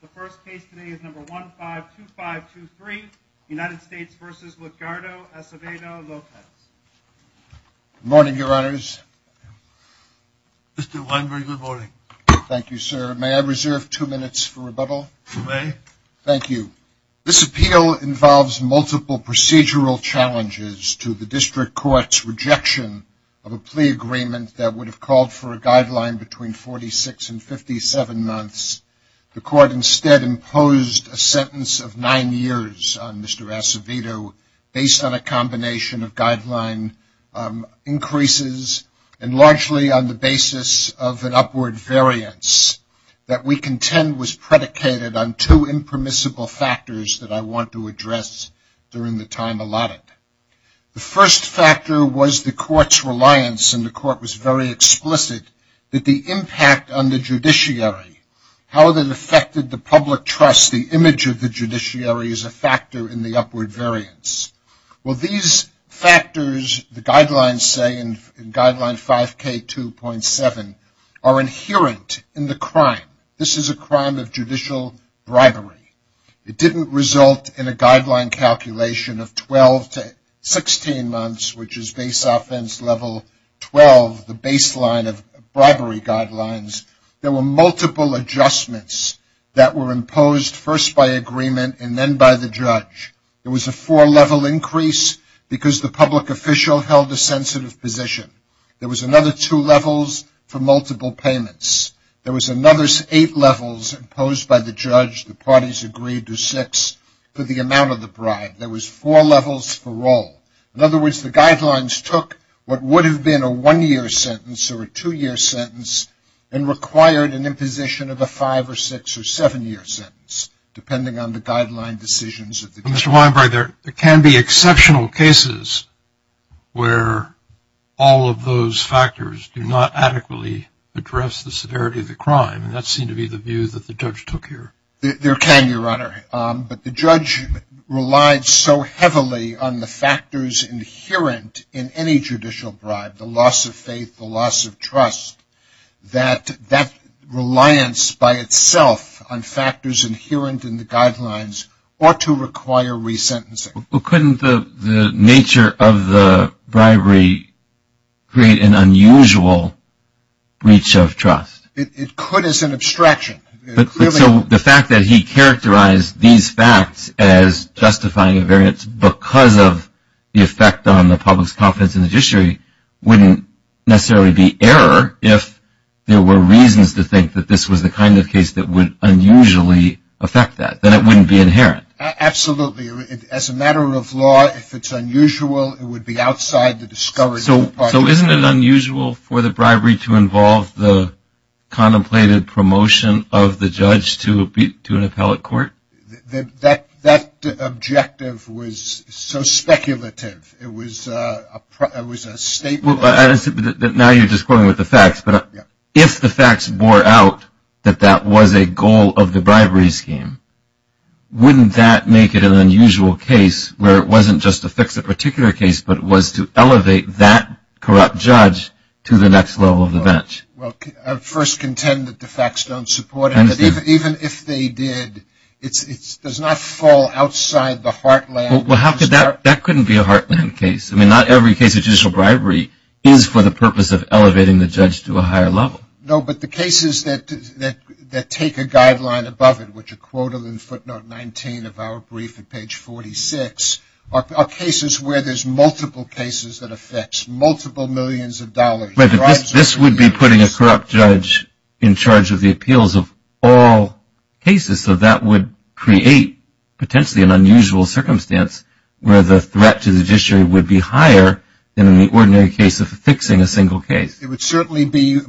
Good morning, your honors. Mr. Weinberg, good morning. Thank you, sir. May I reserve two minutes for rebuttal? You may. Thank you. This appeal involves multiple procedural challenges to the district court's rejection of a plea agreement that would have called for a guideline between 46 and 57 months. The court instead imposed a sentence of nine years on Mr. Acevedo based on a combination of guideline increases and largely on the basis of an upward variance that we contend was predicated on two impermissible factors that I want to address during the time allotted. The first factor was the court's reliance and the court was very explicit that the impact on the judiciary, how that affected the public trust, the image of the judiciary is a factor in the upward variance. Well, these factors, the guidelines say in guideline 5K2.7, are inherent in the crime. This is a crime of judicial bribery. It didn't result in a guideline calculation of 12 to 16 months, which is base offense level 12, the baseline of bribery guidelines. There were multiple adjustments that were imposed first by agreement and then by the judge. There was a four-level increase because the public official held a sensitive position. There was another two levels for multiple payments. There was another eight levels imposed by the judge. The parties agreed to six for the amount of the bribe. There was four levels for all. In other words, the guidelines took what would have been a one-year sentence or a two-year sentence and required an imposition of a five or six or seven-year sentence, depending on the guideline decisions of the judge. Mr. Weinberg, there can be exceptional cases where all of those factors do not adequately address the severity of the crime. That seemed to be the view that the judge took here. There can, Your Honor, but the judge relied so heavily on the factors inherent in any case, the loss of faith, the loss of trust, that that reliance by itself on factors inherent in the guidelines ought to require re-sentencing. Well, couldn't the nature of the bribery create an unusual breach of trust? It could as an abstraction. So the fact that he characterized these facts as justifying a variance because of the effect on the public's confidence in the judiciary wouldn't necessarily be error if there were reasons to think that this was the kind of case that would unusually affect that. Then it wouldn't be inherent. Absolutely. As a matter of law, if it's unusual, it would be outside the discovery of the parties. So isn't it unusual for the bribery to involve the contemplated promotion of the judge to an appellate court? That objective was so speculative. It was a statement that now you're just going with the facts. But if the facts bore out that that was a goal of the bribery scheme, wouldn't that make it an unusual case where it wasn't just to fix a particular case, but was to elevate that corrupt judge to the next level of the bench? Well, I first contend that the facts don't support it. But even if they did, it does not fall outside the heartland. Well, that couldn't be a heartland case. I mean, not every case of judicial bribery is for the purpose of elevating the judge to a higher level. No, but the cases that take a guideline above it, which are quoted in footnote 19 of our brief at page 46, are cases where there's multiple cases that affects multiple millions of dollars. This would be putting a corrupt judge in charge of the appeals of all cases. So that would create, potentially, an unusual circumstance where the threat to the judiciary would be higher than in the ordinary case of fixing a single case. It would certainly be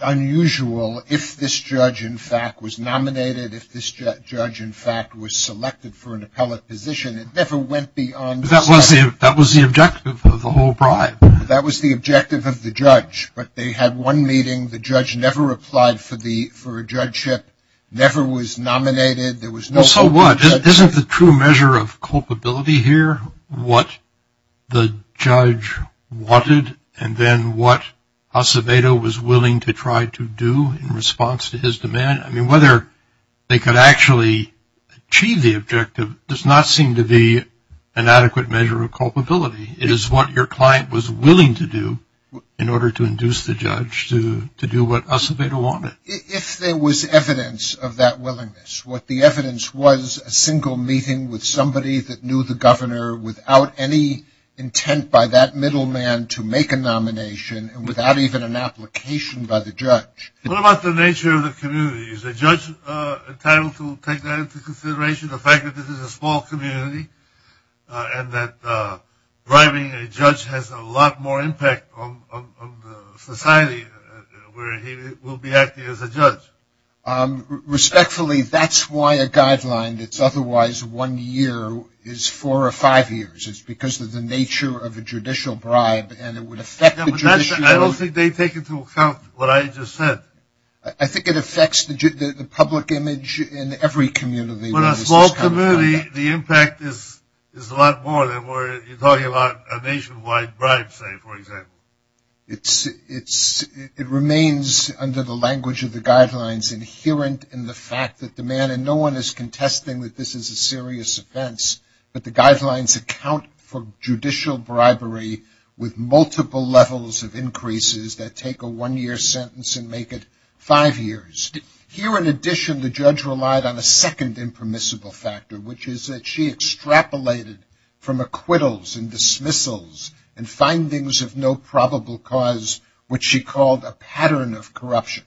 unusual if this judge, in fact, was nominated, if this judge, in fact, was selected for an appellate position. It never went beyond that. That was the objective of the whole bribe. That was the objective of the judge. But they had one meeting. The judge never applied for a judgeship, never was nominated. There was no- So what? Isn't the true measure of culpability here what the judge wanted, and then what Acevedo was willing to try to do in response to his demand? I mean, whether they could actually achieve the objective does not seem to be an adequate measure of culpability. It is what your client was willing to do in order to induce the judge to do what Acevedo wanted. If there was evidence of that willingness, what the evidence was, a single meeting with somebody that knew the governor without any intent by that middleman to make a nomination, and without even an application by the judge. What about the nature of the community? Is the judge entitled to take that into consideration, the fact that this is a small community, and that bribing a judge has a lot more impact on society, where he will be acting as a judge? Respectfully, that's why a guideline that's otherwise one year is four or five years. It's because of the nature of a judicial bribe, and it would affect the judicial- I don't think they take into account what I just said. I think it affects the public image in every community. But a small community, the impact is a lot more than where you're talking about a nationwide bribe, say, for example. It remains, under the language of the guidelines, inherent in the fact that the man- and no one is contesting that this is a serious offense, but the guidelines account for judicial bribery with multiple levels of increases that take a one-year sentence and make it five years. Here, in addition, the judge relied on a second impermissible factor, which is that she extrapolated from acquittals and dismissals and findings of no probable cause, what she called a pattern of corruption.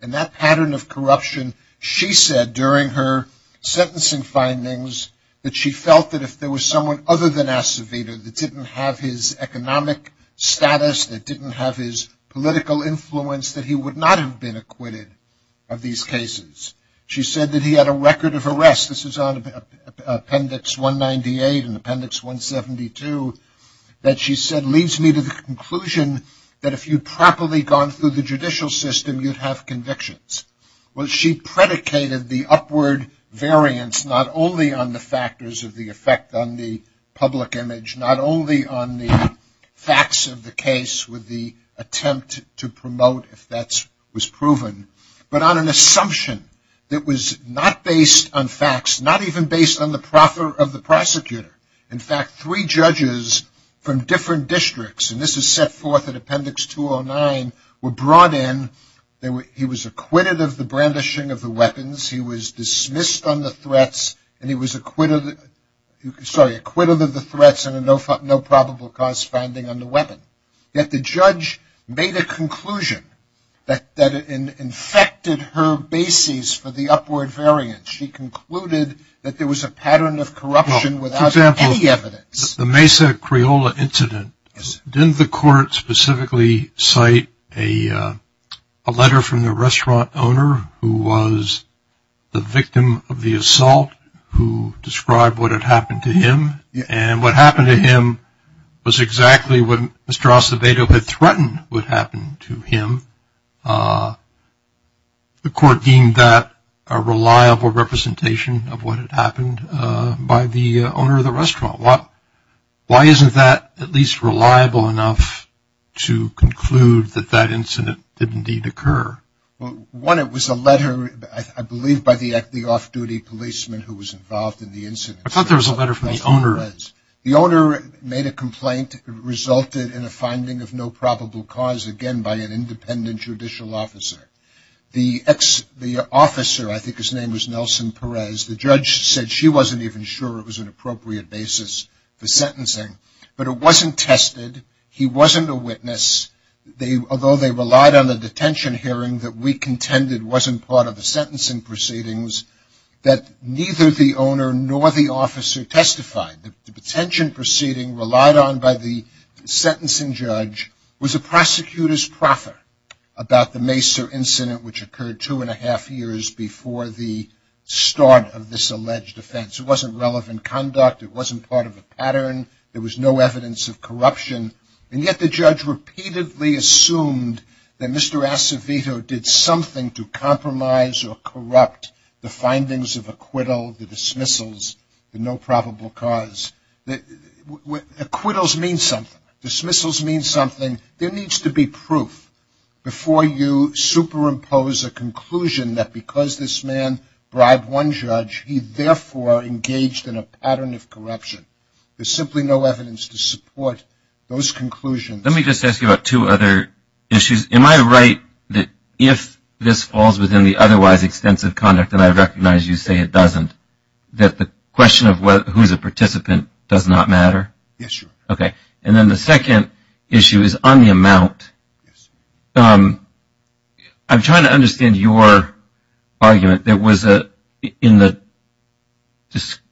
And that pattern of corruption, she said during her sentencing findings, that she felt that if there was someone other than Acevedo that didn't have his economic status, that didn't have his political influence, that he would not have been acquitted of these cases. She said that he had a record of arrest. This is on Appendix 198 and Appendix 172 that she said leads me to the conclusion that if you'd properly gone through the judicial system, you'd have convictions. Well, she predicated the upward variance not only on the factors of the effect on the public image, not only on the facts of the case with the attempt to promote if that was proven, but on an assumption that was not based on facts, not even based on the profit of the prosecutor. In fact, three judges from different districts, and this is set forth in Appendix 209, were brought in, he was acquitted of the brandishing of the weapons, he was dismissed on the threats, and he was acquitted of the threats and a no probable cause finding on the weapon. Yet the judge made a conclusion that it infected her bases for the upward variance. She concluded that there was a pattern of corruption without any evidence. The Mesa Criolla incident, didn't the court specifically cite a letter from the restaurant owner who was the victim of the assault who described what had happened to him? And what happened to him was exactly what Mr. Acevedo had threatened would happen to him. The court deemed that a reliable representation of what had happened by the owner of the restaurant. Why isn't that at least reliable enough to conclude that that incident did indeed occur? One, it was a letter, I believe, by the off-duty policeman who was involved in the incident. I thought there was a letter from the owner. The owner made a complaint that resulted in a finding of no probable cause, again, by an independent judicial officer. The officer, I think his name was Nelson Perez, the judge said she wasn't even sure it was an appropriate basis for sentencing. But it wasn't tested. He wasn't a witness. Although they relied on the detention hearing that we contended wasn't part of the sentencing proceedings, that neither the owner nor the officer testified. The detention proceeding relied on by the sentencing judge was a prosecutor's proffer about the Mesa incident which occurred two and a half years before the start of this alleged offense. It wasn't relevant conduct. It wasn't part of a pattern. There was no evidence of corruption. And yet the judge repeatedly assumed that Mr. Acevedo did something to compromise or corrupt the findings of acquittal, the dismissals, the no probable cause. Acquittals mean something. Dismissals mean something. There needs to be proof before you superimpose a conclusion that because this man bribed one judge, he therefore engaged in a pattern of corruption. There's simply no evidence to support those conclusions. Let me just ask you about two other issues. Am I right that if this falls within the otherwise extensive conduct, and I recognize you say it doesn't, that the question of who's a participant does not matter? Yes, sir. Okay. And then the second issue is on the amount. I'm trying to understand your argument. There was a, in the,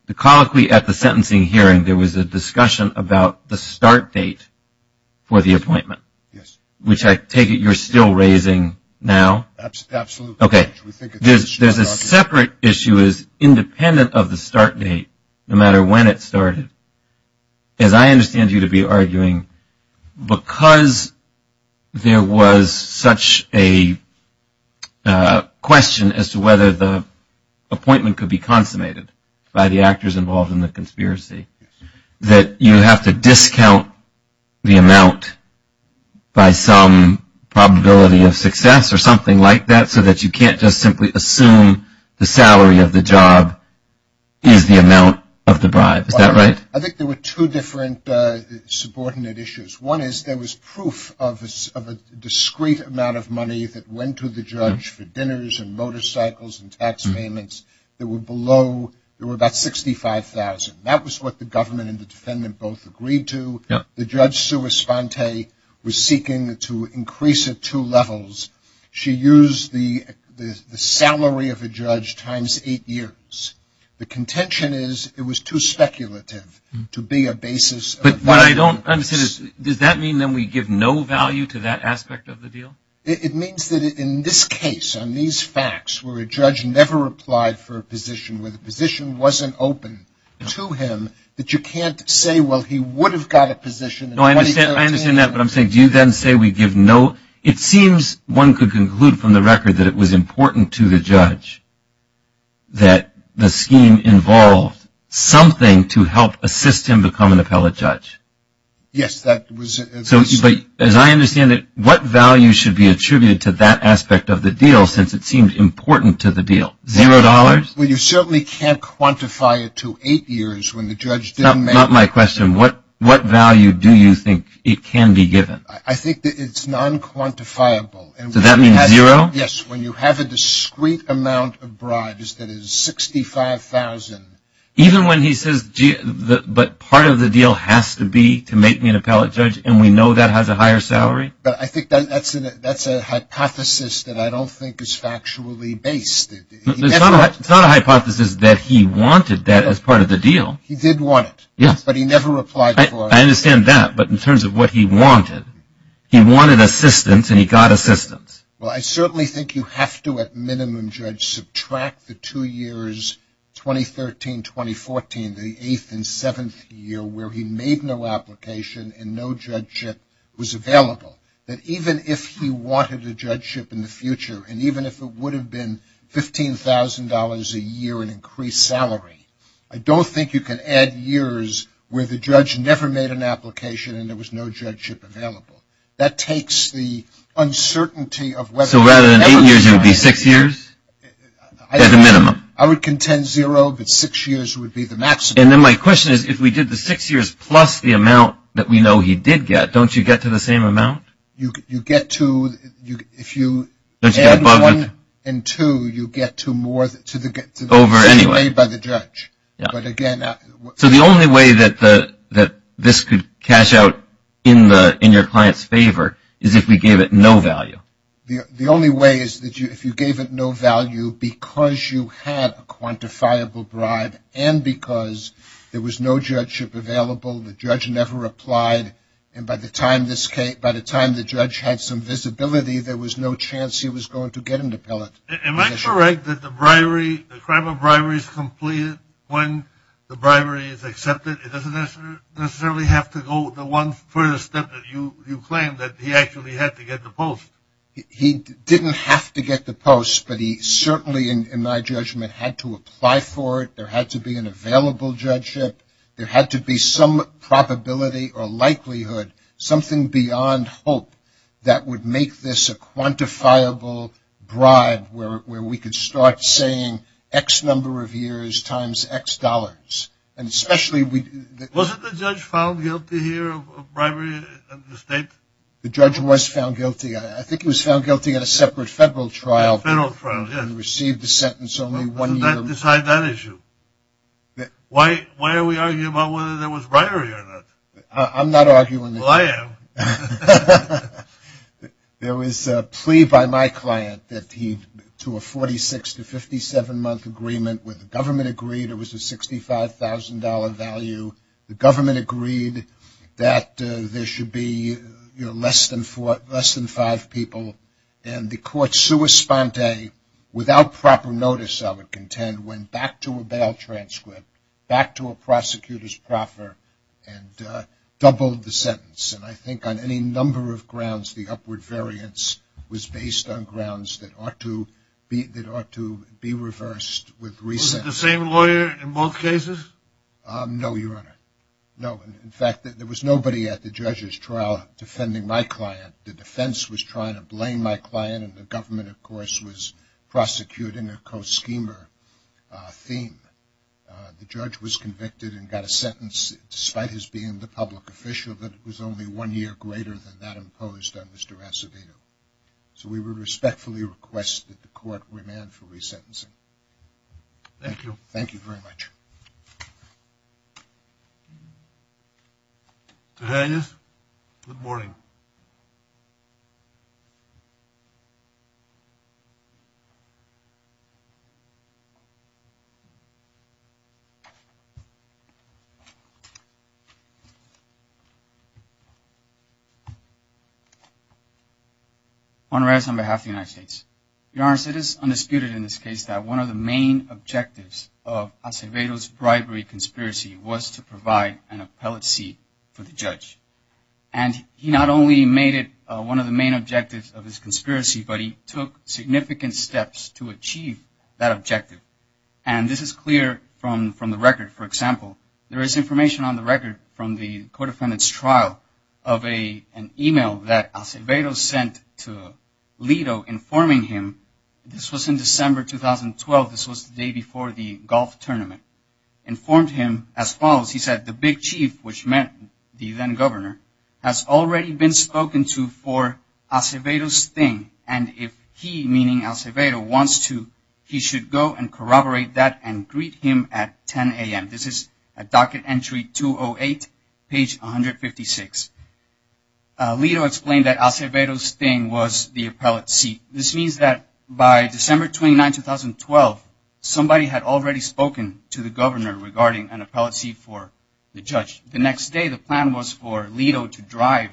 the colloquy at the sentencing hearing, there was a discussion about the start date for the appointment. Yes. Which I take it you're still raising now? Absolutely. Okay. There's a separate issue as independent of the start date, no matter when it started. As I understand you to be arguing, because there was such a question as to whether the appointment could be consummated by the actors involved in the conspiracy, that you have to discount the amount by some probability of success or something like that so that you can't just simply assume the salary of the job is the amount of the bribe. Is that right? I think there were two different subordinate issues. One is there was proof of a discrete amount of money that went to the judge for dinners and motorcycles and tax payments that were below, there were about $65,000. That was what the government and the defendant both agreed to. The judge, Sue Esponte, was seeking to increase it two levels. She used the salary of a judge times eight years. The contention is it was too speculative to be a basis. But what I don't understand is, does that mean then we give no value to that aspect of the deal? It means that in this case, on these facts, where a judge never applied for a position, where the position wasn't open to him, that you can't say, well, he would have got a position. No, I understand that. But I'm saying, do you then say we give no, it seems one could conclude from the record that it was important to the judge that the scheme involved something to help assist him become an appellate judge. Yes, that was. As I understand it, what value should be attributed to that aspect of the deal, since it seemed important to the deal? Zero dollars? Well, you certainly can't quantify it to eight years when the judge didn't make it. Not my question, what value do you think it can be given? I think that it's non-quantifiable. Does that mean zero? Yes, when you have a discrete amount of bribes that is $65,000. Even when he says, but part of the deal has to be to make me an appellate judge, and we know that has a higher salary? But I think that's a hypothesis that I don't think is factually based. It's not a hypothesis that he wanted that as part of the deal. He did want it. Yes. But he never replied for it. I understand that. But in terms of what he wanted, he wanted assistance, and he got assistance. Well, I certainly think you have to, at minimum, judge, subtract the two years, 2013, 2014, the eighth and seventh year where he made no application and no judgeship was available. That even if he wanted a judgeship in the future, and even if it would have been $15,000 a year in increased salary, I don't think you can add years where the judge never made an application and there was no judgeship available. That takes the uncertainty of whether or not. So, rather than eight years, it would be six years, at a minimum? I would contend zero, but six years would be the maximum. And then my question is, if we did the six years plus the amount that we know he did get, don't you get to the same amount? You get to, if you add one and two, you get to more, to the same amount paid by the judge. But again. So, the only way that this could cash out in your client's favor is if we gave it no value? The only way is if you gave it no value because you had a quantifiable bribe and because there was no judgeship available, the judge never applied, and by the time the judge had some visibility, there was no chance he was going to get an appellate. Am I correct that the bribery, the crime of bribery is completed when the bribery is accepted? It doesn't necessarily have to go the one further step that you claim that he actually had to get the post? He didn't have to get the post, but he certainly, in my judgment, had to apply for it. There had to be an available judgeship. There had to be some probability or likelihood, something beyond hope, that would make this a quantifiable bribe where we could start saying X number of years times X dollars. Wasn't the judge found guilty here of bribery at the state? The judge was found guilty. I think he was found guilty at a separate federal trial. Federal trial, yes. And received a sentence only one year. Doesn't that decide that issue? Why are we arguing about whether there was bribery or not? I'm not arguing that. Well, I am. There was a plea by my client that he, to a 46 to 57 month agreement where the government agreed it was a $65,000 value. The government agreed that there should be less than five people. And the court, sua sponte, without proper notice, I would contend, went back to a bail transcript, back to a prosecutor's proffer, and doubled the sentence. And I think on any number of grounds, the upward variance was based on grounds that ought to be reversed with reason. Was it the same lawyer in both cases? No, Your Honor. No. In fact, there was nobody at the judge's trial defending my client. The defense was trying to blame my client, and the government, of course, was prosecuting a co-schemer theme. The judge was convicted and got a sentence despite his being the public official, but it was only one year greater than that imposed on Mr. Acevedo. So we would respectfully request that the court remand for resentencing. Thank you. Thank you very much. Mr. Reyes, good morning. Juan Reyes on behalf of the United States. Your Honor, it is undisputed in this case that one of the main objectives of Acevedo's bribery conspiracy was to provide an appellate seat for the judge. And he not only made it one of the main objectives of his conspiracy, but he took significant steps to achieve that objective. And this is clear from the record. For example, there is information on the record from the co-defendant's trial of an email that Acevedo sent to Leto informing him. This was in December 2012. This was the day before the golf tournament. He informed him as follows. He said the big chief, which meant the then governor, has already been spoken to for Acevedo's thing. And if he, meaning Acevedo, wants to, he should go and corroborate that and greet him at 10 a.m. This is at docket entry 208, page 156. Leto explained that Acevedo's thing was the appellate seat. This means that by December 29, 2012, somebody had already spoken to the governor regarding an appellate seat for the judge. The next day, the plan was for Leto to drive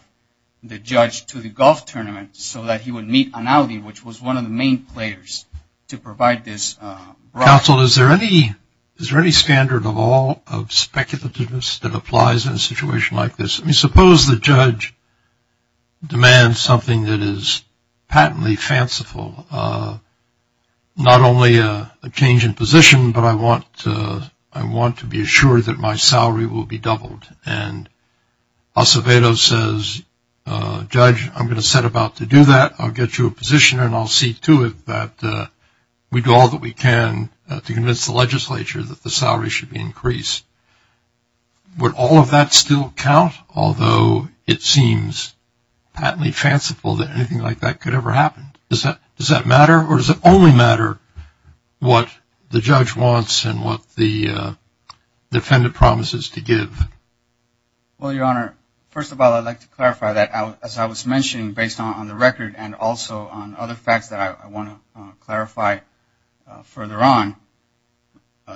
the judge to the golf tournament so that he would meet Analdi, which was one of the main players, to provide this. Counsel, is there any standard of all of speculativeness that applies in a situation like this? Suppose the judge demands something that is patently fanciful, not only a change in position, but I want to be assured that my salary will be doubled. And Acevedo says, Judge, I'm going to set about to do that. I'll get you a position, and I'll see to it that we do all that we can to convince the legislature that the salary should be increased. Would all of that still count? Although it seems patently fanciful that anything like that could ever happen. Does that matter? Or does it only matter what the judge wants and what the defendant promises to give? Well, Your Honor, first of all, I'd like to clarify that, as I was mentioning, based on the record and also on other facts that I want to clarify further on,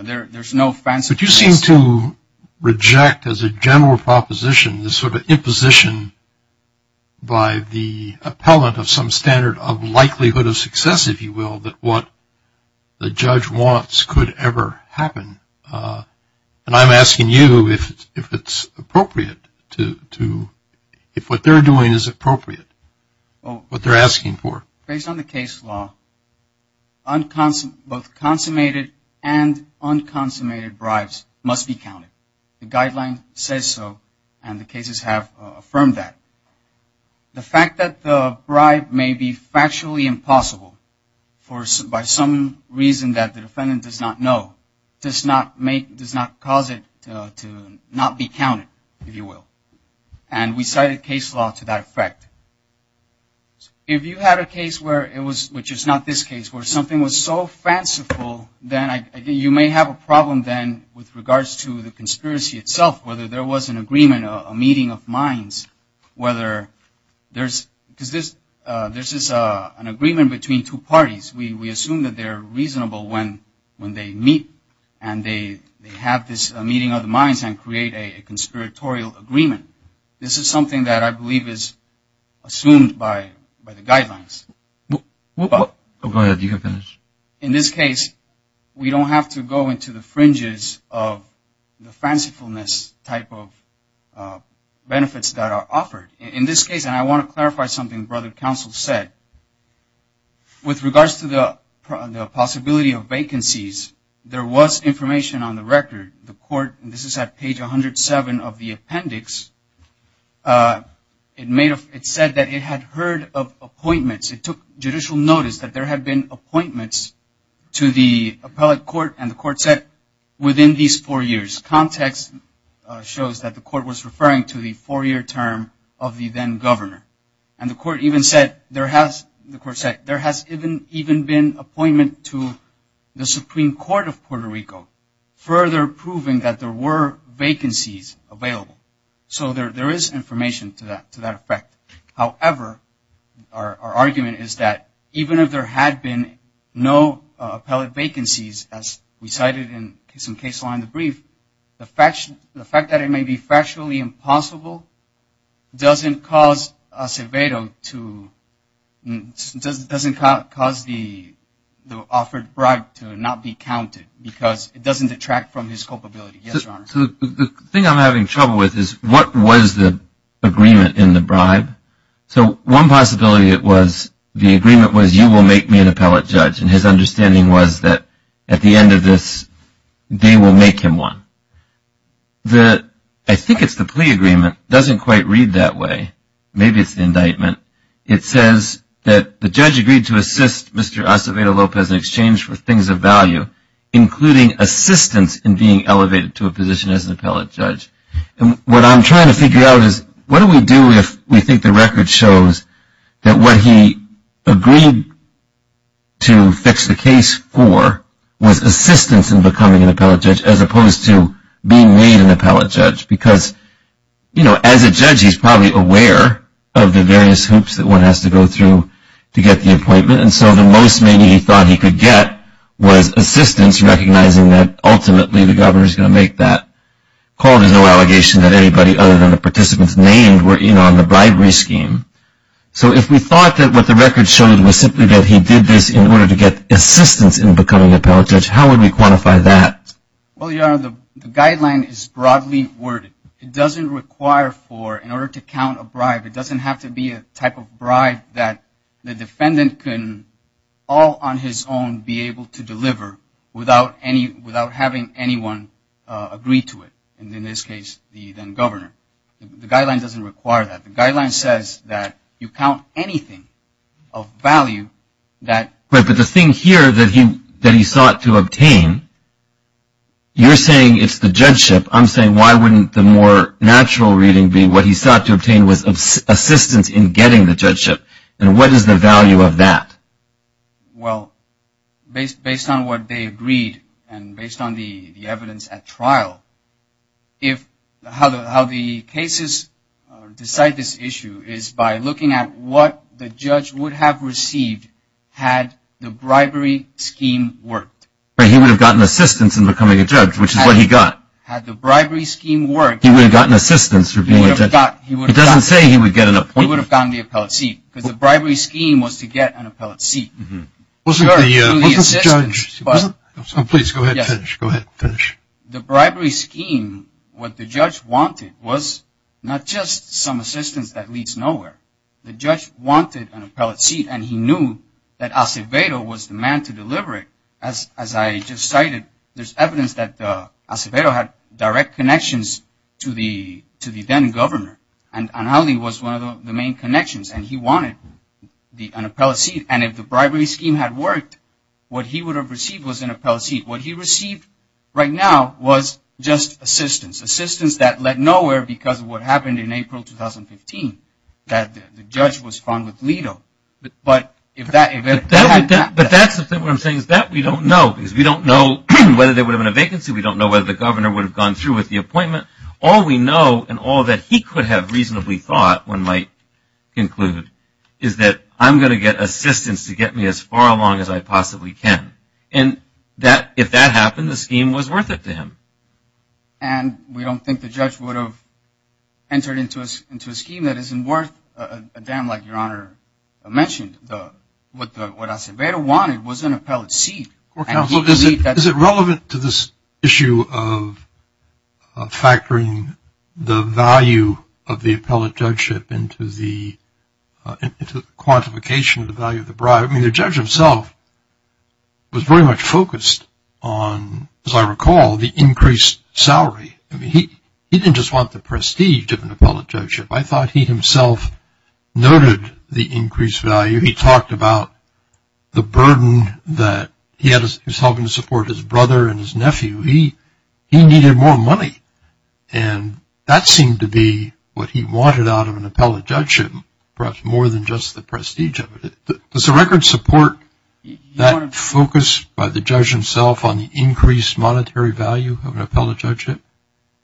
there's no fanciful. But you seem to reject, as a general proposition, this sort of imposition by the appellant of some standard of likelihood of success, if you will, that what the judge wants could ever happen. And I'm asking you if it's appropriate to – if what they're doing is appropriate, what they're asking for. Based on the case law, both consummated and unconsummated bribes must be counted. The guideline says so, and the cases have affirmed that. The fact that the bribe may be factually impossible by some reason that the defendant does not know does not cause it to not be counted, if you will. And we cited case law to that effect. If you had a case where it was – which is not this case – where something was so fanciful, then you may have a problem then with regards to the conspiracy itself, whether there was an agreement, a meeting of minds, whether there's – because this is an agreement between two parties. We assume that they're reasonable when they meet and they have this meeting of the minds and create a conspiratorial agreement. This is something that I believe is assumed by the guidelines. Go ahead. You can finish. In this case, we don't have to go into the fringes of the fancifulness type of benefits that are offered. In this case, and I want to clarify something Brother Counsel said, with regards to the possibility of vacancies, there was information on the record. This is at page 107 of the appendix. It said that it had heard of appointments. It took judicial notice that there had been appointments to the appellate court, and the court said within these four years. Context shows that the court was referring to the four-year term of the then governor. And the court even said there has – the court said there has even been appointment to the Supreme Court of Puerto Rico. Further proving that there were vacancies available. So there is information to that effect. However, our argument is that even if there had been no appellate vacancies, as we cited in some case law in the brief, the fact that it may be factually impossible doesn't cause a Yes, Your Honor. So the thing I'm having trouble with is what was the agreement in the bribe? So one possibility was the agreement was you will make me an appellate judge, and his understanding was that at the end of this, they will make him one. I think it's the plea agreement. It doesn't quite read that way. Maybe it's the indictment. It says that the judge agreed to assist Mr. Acevedo Lopez in exchange for things of value, including assistance in being elevated to a position as an appellate judge. And what I'm trying to figure out is what do we do if we think the record shows that what he agreed to fix the case for was assistance in becoming an appellate judge as opposed to being made an appellate judge? Because, you know, as a judge, he's probably aware of the various hoops that one has to go through to get the appointment. And so the most maybe he thought he could get was assistance, recognizing that ultimately the governor is going to make that call. There's no allegation that anybody other than the participants named were in on the bribery scheme. So if we thought that what the record showed was simply that he did this in order to get assistance in becoming an appellate judge, how would we quantify that? Well, Your Honor, the guideline is broadly worded. It doesn't require for in order to count a bribe, it doesn't have to be a type of bribe that the defendant can all on his own be able to deliver without having anyone agree to it. And in this case, the governor. The guideline doesn't require that. The guideline says that you count anything of value that. But the thing here that he sought to obtain, you're saying it's the judgeship. I'm saying why wouldn't the more natural reading be what he sought to obtain was assistance in getting the judgeship. And what is the value of that? Well, based on what they agreed and based on the evidence at trial, how the cases decide this issue is by looking at what the judge would have received had the bribery scheme worked. He would have gotten assistance in becoming a judge, which is what he got. Had the bribery scheme worked. He would have gotten assistance for being a judge. It doesn't say he would get an appointment. He would have gotten the appellate seat because the bribery scheme was to get an appellate seat. Wasn't the judge, please go ahead and finish. The bribery scheme, what the judge wanted was not just some assistance that leads nowhere. The judge wanted an appellate seat and he knew that Acevedo was the man to deliver it. As I just cited, there's evidence that Acevedo had direct connections to the then governor. And Anhali was one of the main connections and he wanted an appellate seat. And if the bribery scheme had worked, what he would have received was an appellate seat. What he received right now was just assistance. Assistance that led nowhere because of what happened in April 2015. That the judge was found with Leto. But that's what I'm saying is that we don't know. Because we don't know whether there would have been a vacancy. We don't know whether the governor would have gone through with the appointment. All we know and all that he could have reasonably thought one might conclude is that I'm going to get assistance to get me as far along as I possibly can. And if that happened, the scheme was worth it to him. And we don't think the judge would have entered into a scheme that isn't worth a dam like Your Honor mentioned. What Acevedo wanted was an appellate seat. Is it relevant to this issue of factoring the value of the appellate judgeship into the quantification of the value of the bribe? I mean, the judge himself was very much focused on, as I recall, the increased salary. I mean, he didn't just want the prestige of an appellate judgeship. I thought he himself noted the increased value. He talked about the burden that he was having to support his brother and his nephew. He needed more money. And that seemed to be what he wanted out of an appellate judgeship, perhaps more than just the prestige of it. Does the record support that focus by the judge himself on the increased monetary value of an appellate judgeship?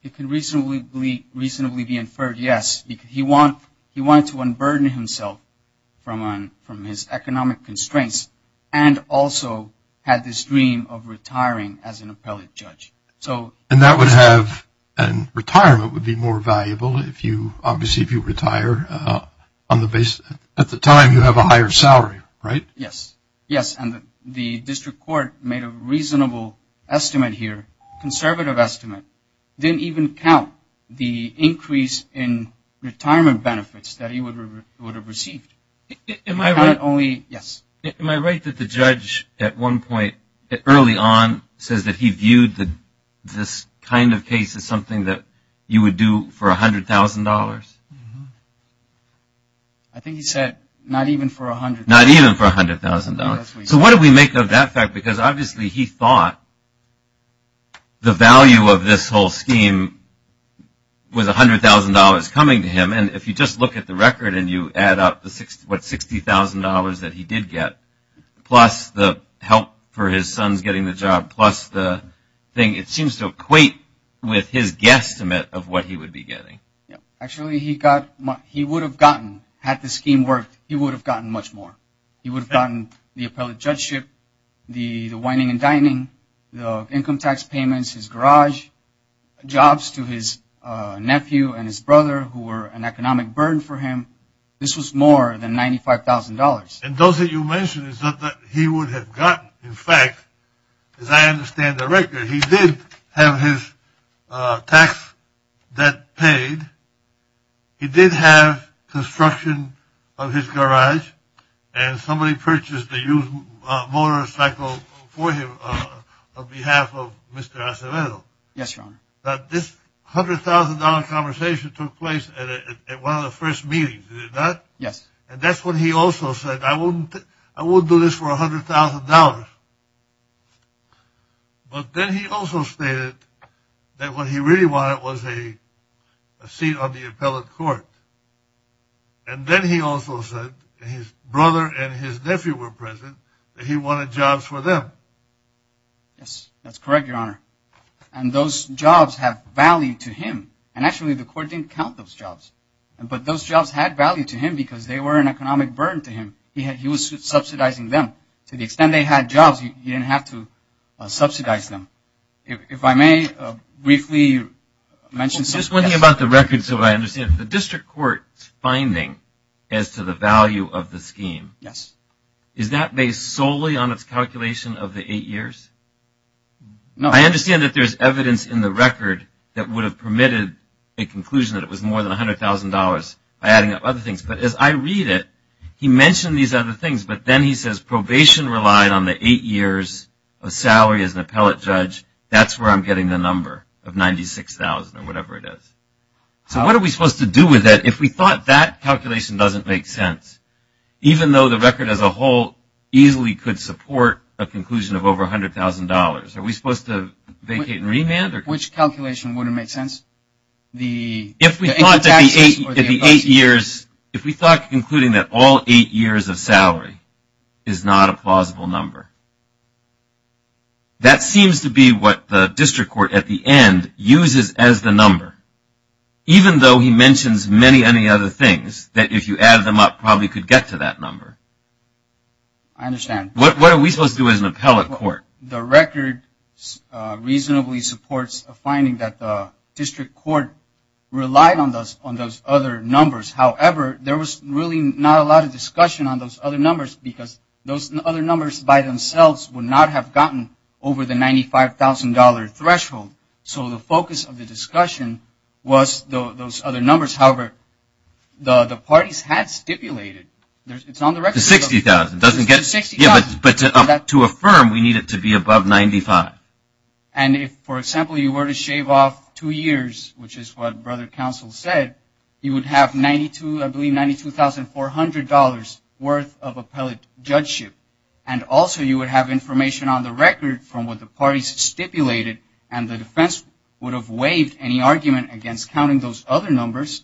It can reasonably be inferred, yes. He wanted to unburden himself from his economic constraints and also had this dream of retiring as an appellate judge. And that would have, and retirement would be more valuable. Obviously, if you retire, at the time you have a higher salary, right? Yes, yes, and the district court made a reasonable estimate here, conservative estimate, didn't even count the increase in retirement benefits that he would have received. Am I right? Yes. Am I right that the judge at one point, early on, says that he viewed this kind of case as something that you would do for $100,000? I think he said not even for $100,000. Not even for $100,000. So what do we make of that fact? Because obviously he thought the value of this whole scheme was $100,000 coming to him. And if you just look at the record and you add up what, $60,000 that he did get, plus the help for his sons getting the job, plus the thing, it seems to equate with his guesstimate of what he would be getting. Actually, he got, he would have gotten, had the scheme worked, he would have gotten much more. He would have gotten the appellate judgeship, the wining and dining, the income tax payments, his garage, jobs to his nephew and his brother who were an economic burden for him. This was more than $95,000. And those that you mentioned is not that he would have gotten. In fact, as I understand the record, he did have his tax debt paid. He did have construction of his garage, and somebody purchased a used motorcycle for him on behalf of Mr. Acevedo. Yes, Your Honor. This $100,000 conversation took place at one of the first meetings, did it not? Yes. And that's when he also said, I won't do this for $100,000. But then he also stated that what he really wanted was a seat on the appellate court. And then he also said his brother and his nephew were present, that he wanted jobs for them. Yes, that's correct, Your Honor. And those jobs have value to him. And actually, the court didn't count those jobs. But those jobs had value to him because they were an economic burden to him. He was subsidizing them. To the extent they had jobs, he didn't have to subsidize them. If I may briefly mention something else. I'm just wondering about the record so I understand. The district court's finding as to the value of the scheme, is that based solely on its calculation of the eight years? No. I understand that there's evidence in the record that would have permitted a conclusion that it was more than $100,000, adding up other things. But as I read it, he mentioned these other things. But then he says probation relied on the eight years of salary as an appellate judge. That's where I'm getting the number of $96,000 or whatever it is. So what are we supposed to do with that if we thought that calculation doesn't make sense, even though the record as a whole easily could support a conclusion of over $100,000? Are we supposed to vacate and remand? Which calculation wouldn't make sense? If we thought that the eight years, if we thought including that all eight years of salary is not a plausible number, that seems to be what the district court at the end uses as the number. Even though he mentions many, many other things, that if you add them up probably could get to that number. I understand. What are we supposed to do as an appellate court? The record reasonably supports a finding that the district court relied on those other numbers. However, there was really not a lot of discussion on those other numbers because those other numbers by themselves would not have gotten over the $95,000 threshold. So the focus of the discussion was those other numbers. However, the parties had stipulated. To $60,000. But to affirm, we need it to be above $95,000. And if, for example, you were to shave off two years, which is what Brother Counsel said, you would have $92,400 worth of appellate judgeship. And also you would have information on the record from what the parties stipulated, and the defense would have waived any argument against counting those other numbers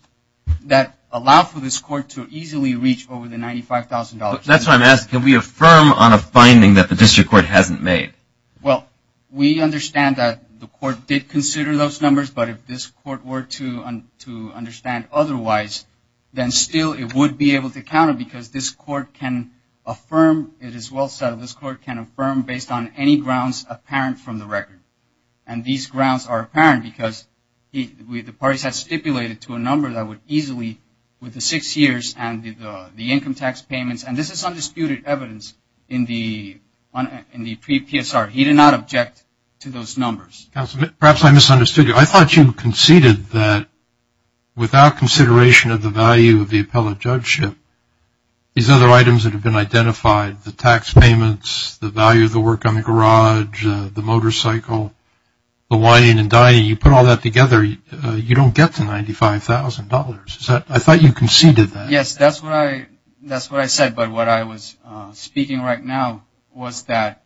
that allow for this court to easily reach over the $95,000 threshold. That's what I'm asking. Can we affirm on a finding that the district court hasn't made? Well, we understand that the court did consider those numbers, but if this court were to understand otherwise, then still it would be able to count it because this court can affirm, it is well said, this court can affirm based on any grounds apparent from the record. And these grounds are apparent because the parties had stipulated to a number that would easily, with the six years and the income tax payments, and this is undisputed evidence in the pre-PSR. He did not object to those numbers. Counsel, perhaps I misunderstood you. I thought you conceded that without consideration of the value of the appellate judgeship, these other items that have been identified, the tax payments, the value of the work on the garage, the motorcycle, the wine and dining, you put all that together, you don't get the $95,000. I thought you conceded that. Yes, that's what I said, but what I was speaking right now was that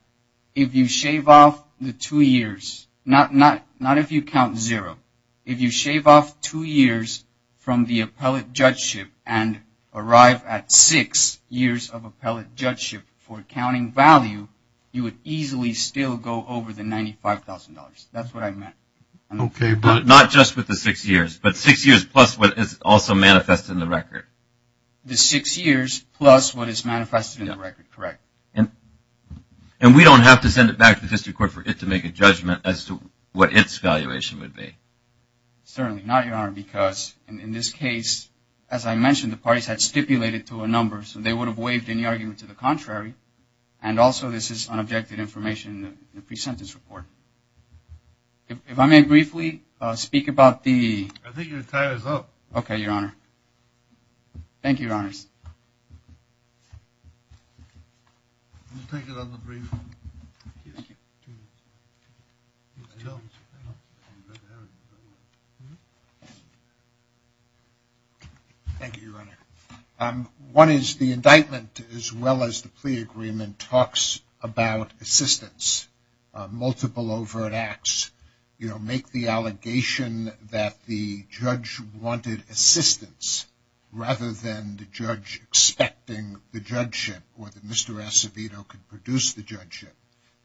if you shave off the two years, not if you count zero, if you shave off two years from the appellate judgeship and arrive at six years of appellate judgeship for counting value, you would easily still go over the $95,000. That's what I meant. Okay, but not just with the six years, but six years plus what is also manifested in the record. The six years plus what is manifested in the record, correct. And we don't have to send it back to the district court for it to make a judgment as to what its valuation would be. Certainly not, Your Honor, because in this case, as I mentioned, the parties had stipulated to a number, so they would have waived any argument to the contrary, and also this is unobjected information in the pre-sentence report. If I may briefly speak about the… I think your time is up. Thank you, Your Honors. We'll take it on the brief. Thank you, Your Honor. One is the indictment, as well as the plea agreement, talks about assistance, multiple overt acts, you know, make the allegation that the judge wanted assistance rather than the judge expecting the judgeship or that Mr. Acevedo could produce the judgeship.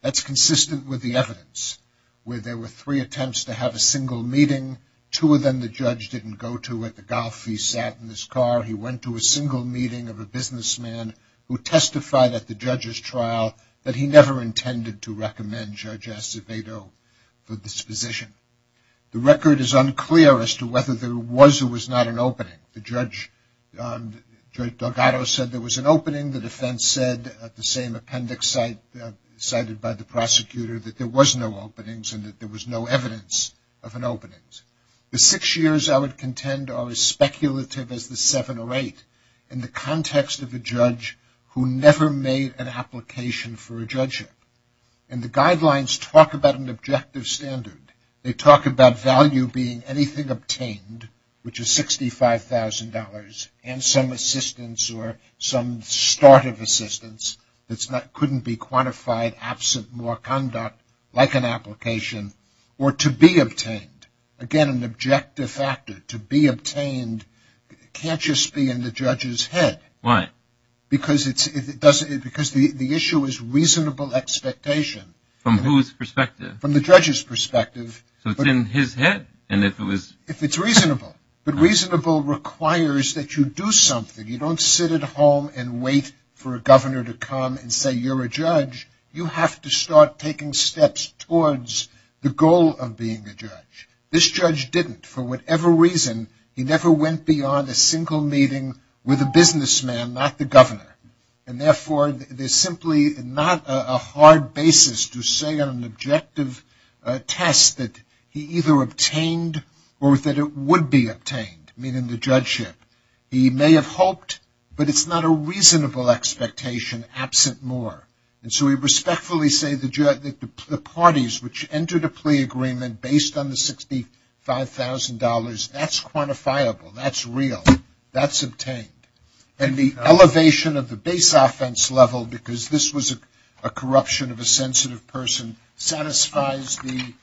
That's consistent with the evidence where there were three attempts to have a single meeting, two of them the judge didn't go to at the golf, he sat in his car, he went to a single meeting of a businessman who testified at the judge's trial that he never intended to recommend Judge Acevedo for this position. The record is unclear as to whether there was or was not an opening. The judge, Judge Delgado, said there was an opening. The defense said at the same appendix cited by the prosecutor that there was no openings and that there was no evidence of an opening. The six years, I would contend, are as speculative as the seven or eight in the context of a judge who never made an application for a judgeship. And the guidelines talk about an objective standard. They talk about value being anything obtained, which is $65,000, and some assistance or some start of assistance that couldn't be quantified absent more conduct, like an application, or to be obtained. Again, an objective factor. To be obtained can't just be in the judge's head. Why? Because the issue is reasonable expectation. From whose perspective? From the judge's perspective. So it's in his head? If it's reasonable. But reasonable requires that you do something. You don't sit at home and wait for a governor to come and say you're a judge. You have to start taking steps towards the goal of being a judge. This judge didn't. For whatever reason, he never went beyond a single meeting with a businessman, not the governor. And, therefore, there's simply not a hard basis to say on an objective test that he either obtained or that it would be obtained, meaning the judgeship. He may have hoped, but it's not a reasonable expectation absent more. And so we respectfully say that the parties which entered a plea agreement based on the $65,000, that's quantifiable. That's real. That's obtained. And the elevation of the base offense level, because this was a corruption of a sensitive person, satisfies the.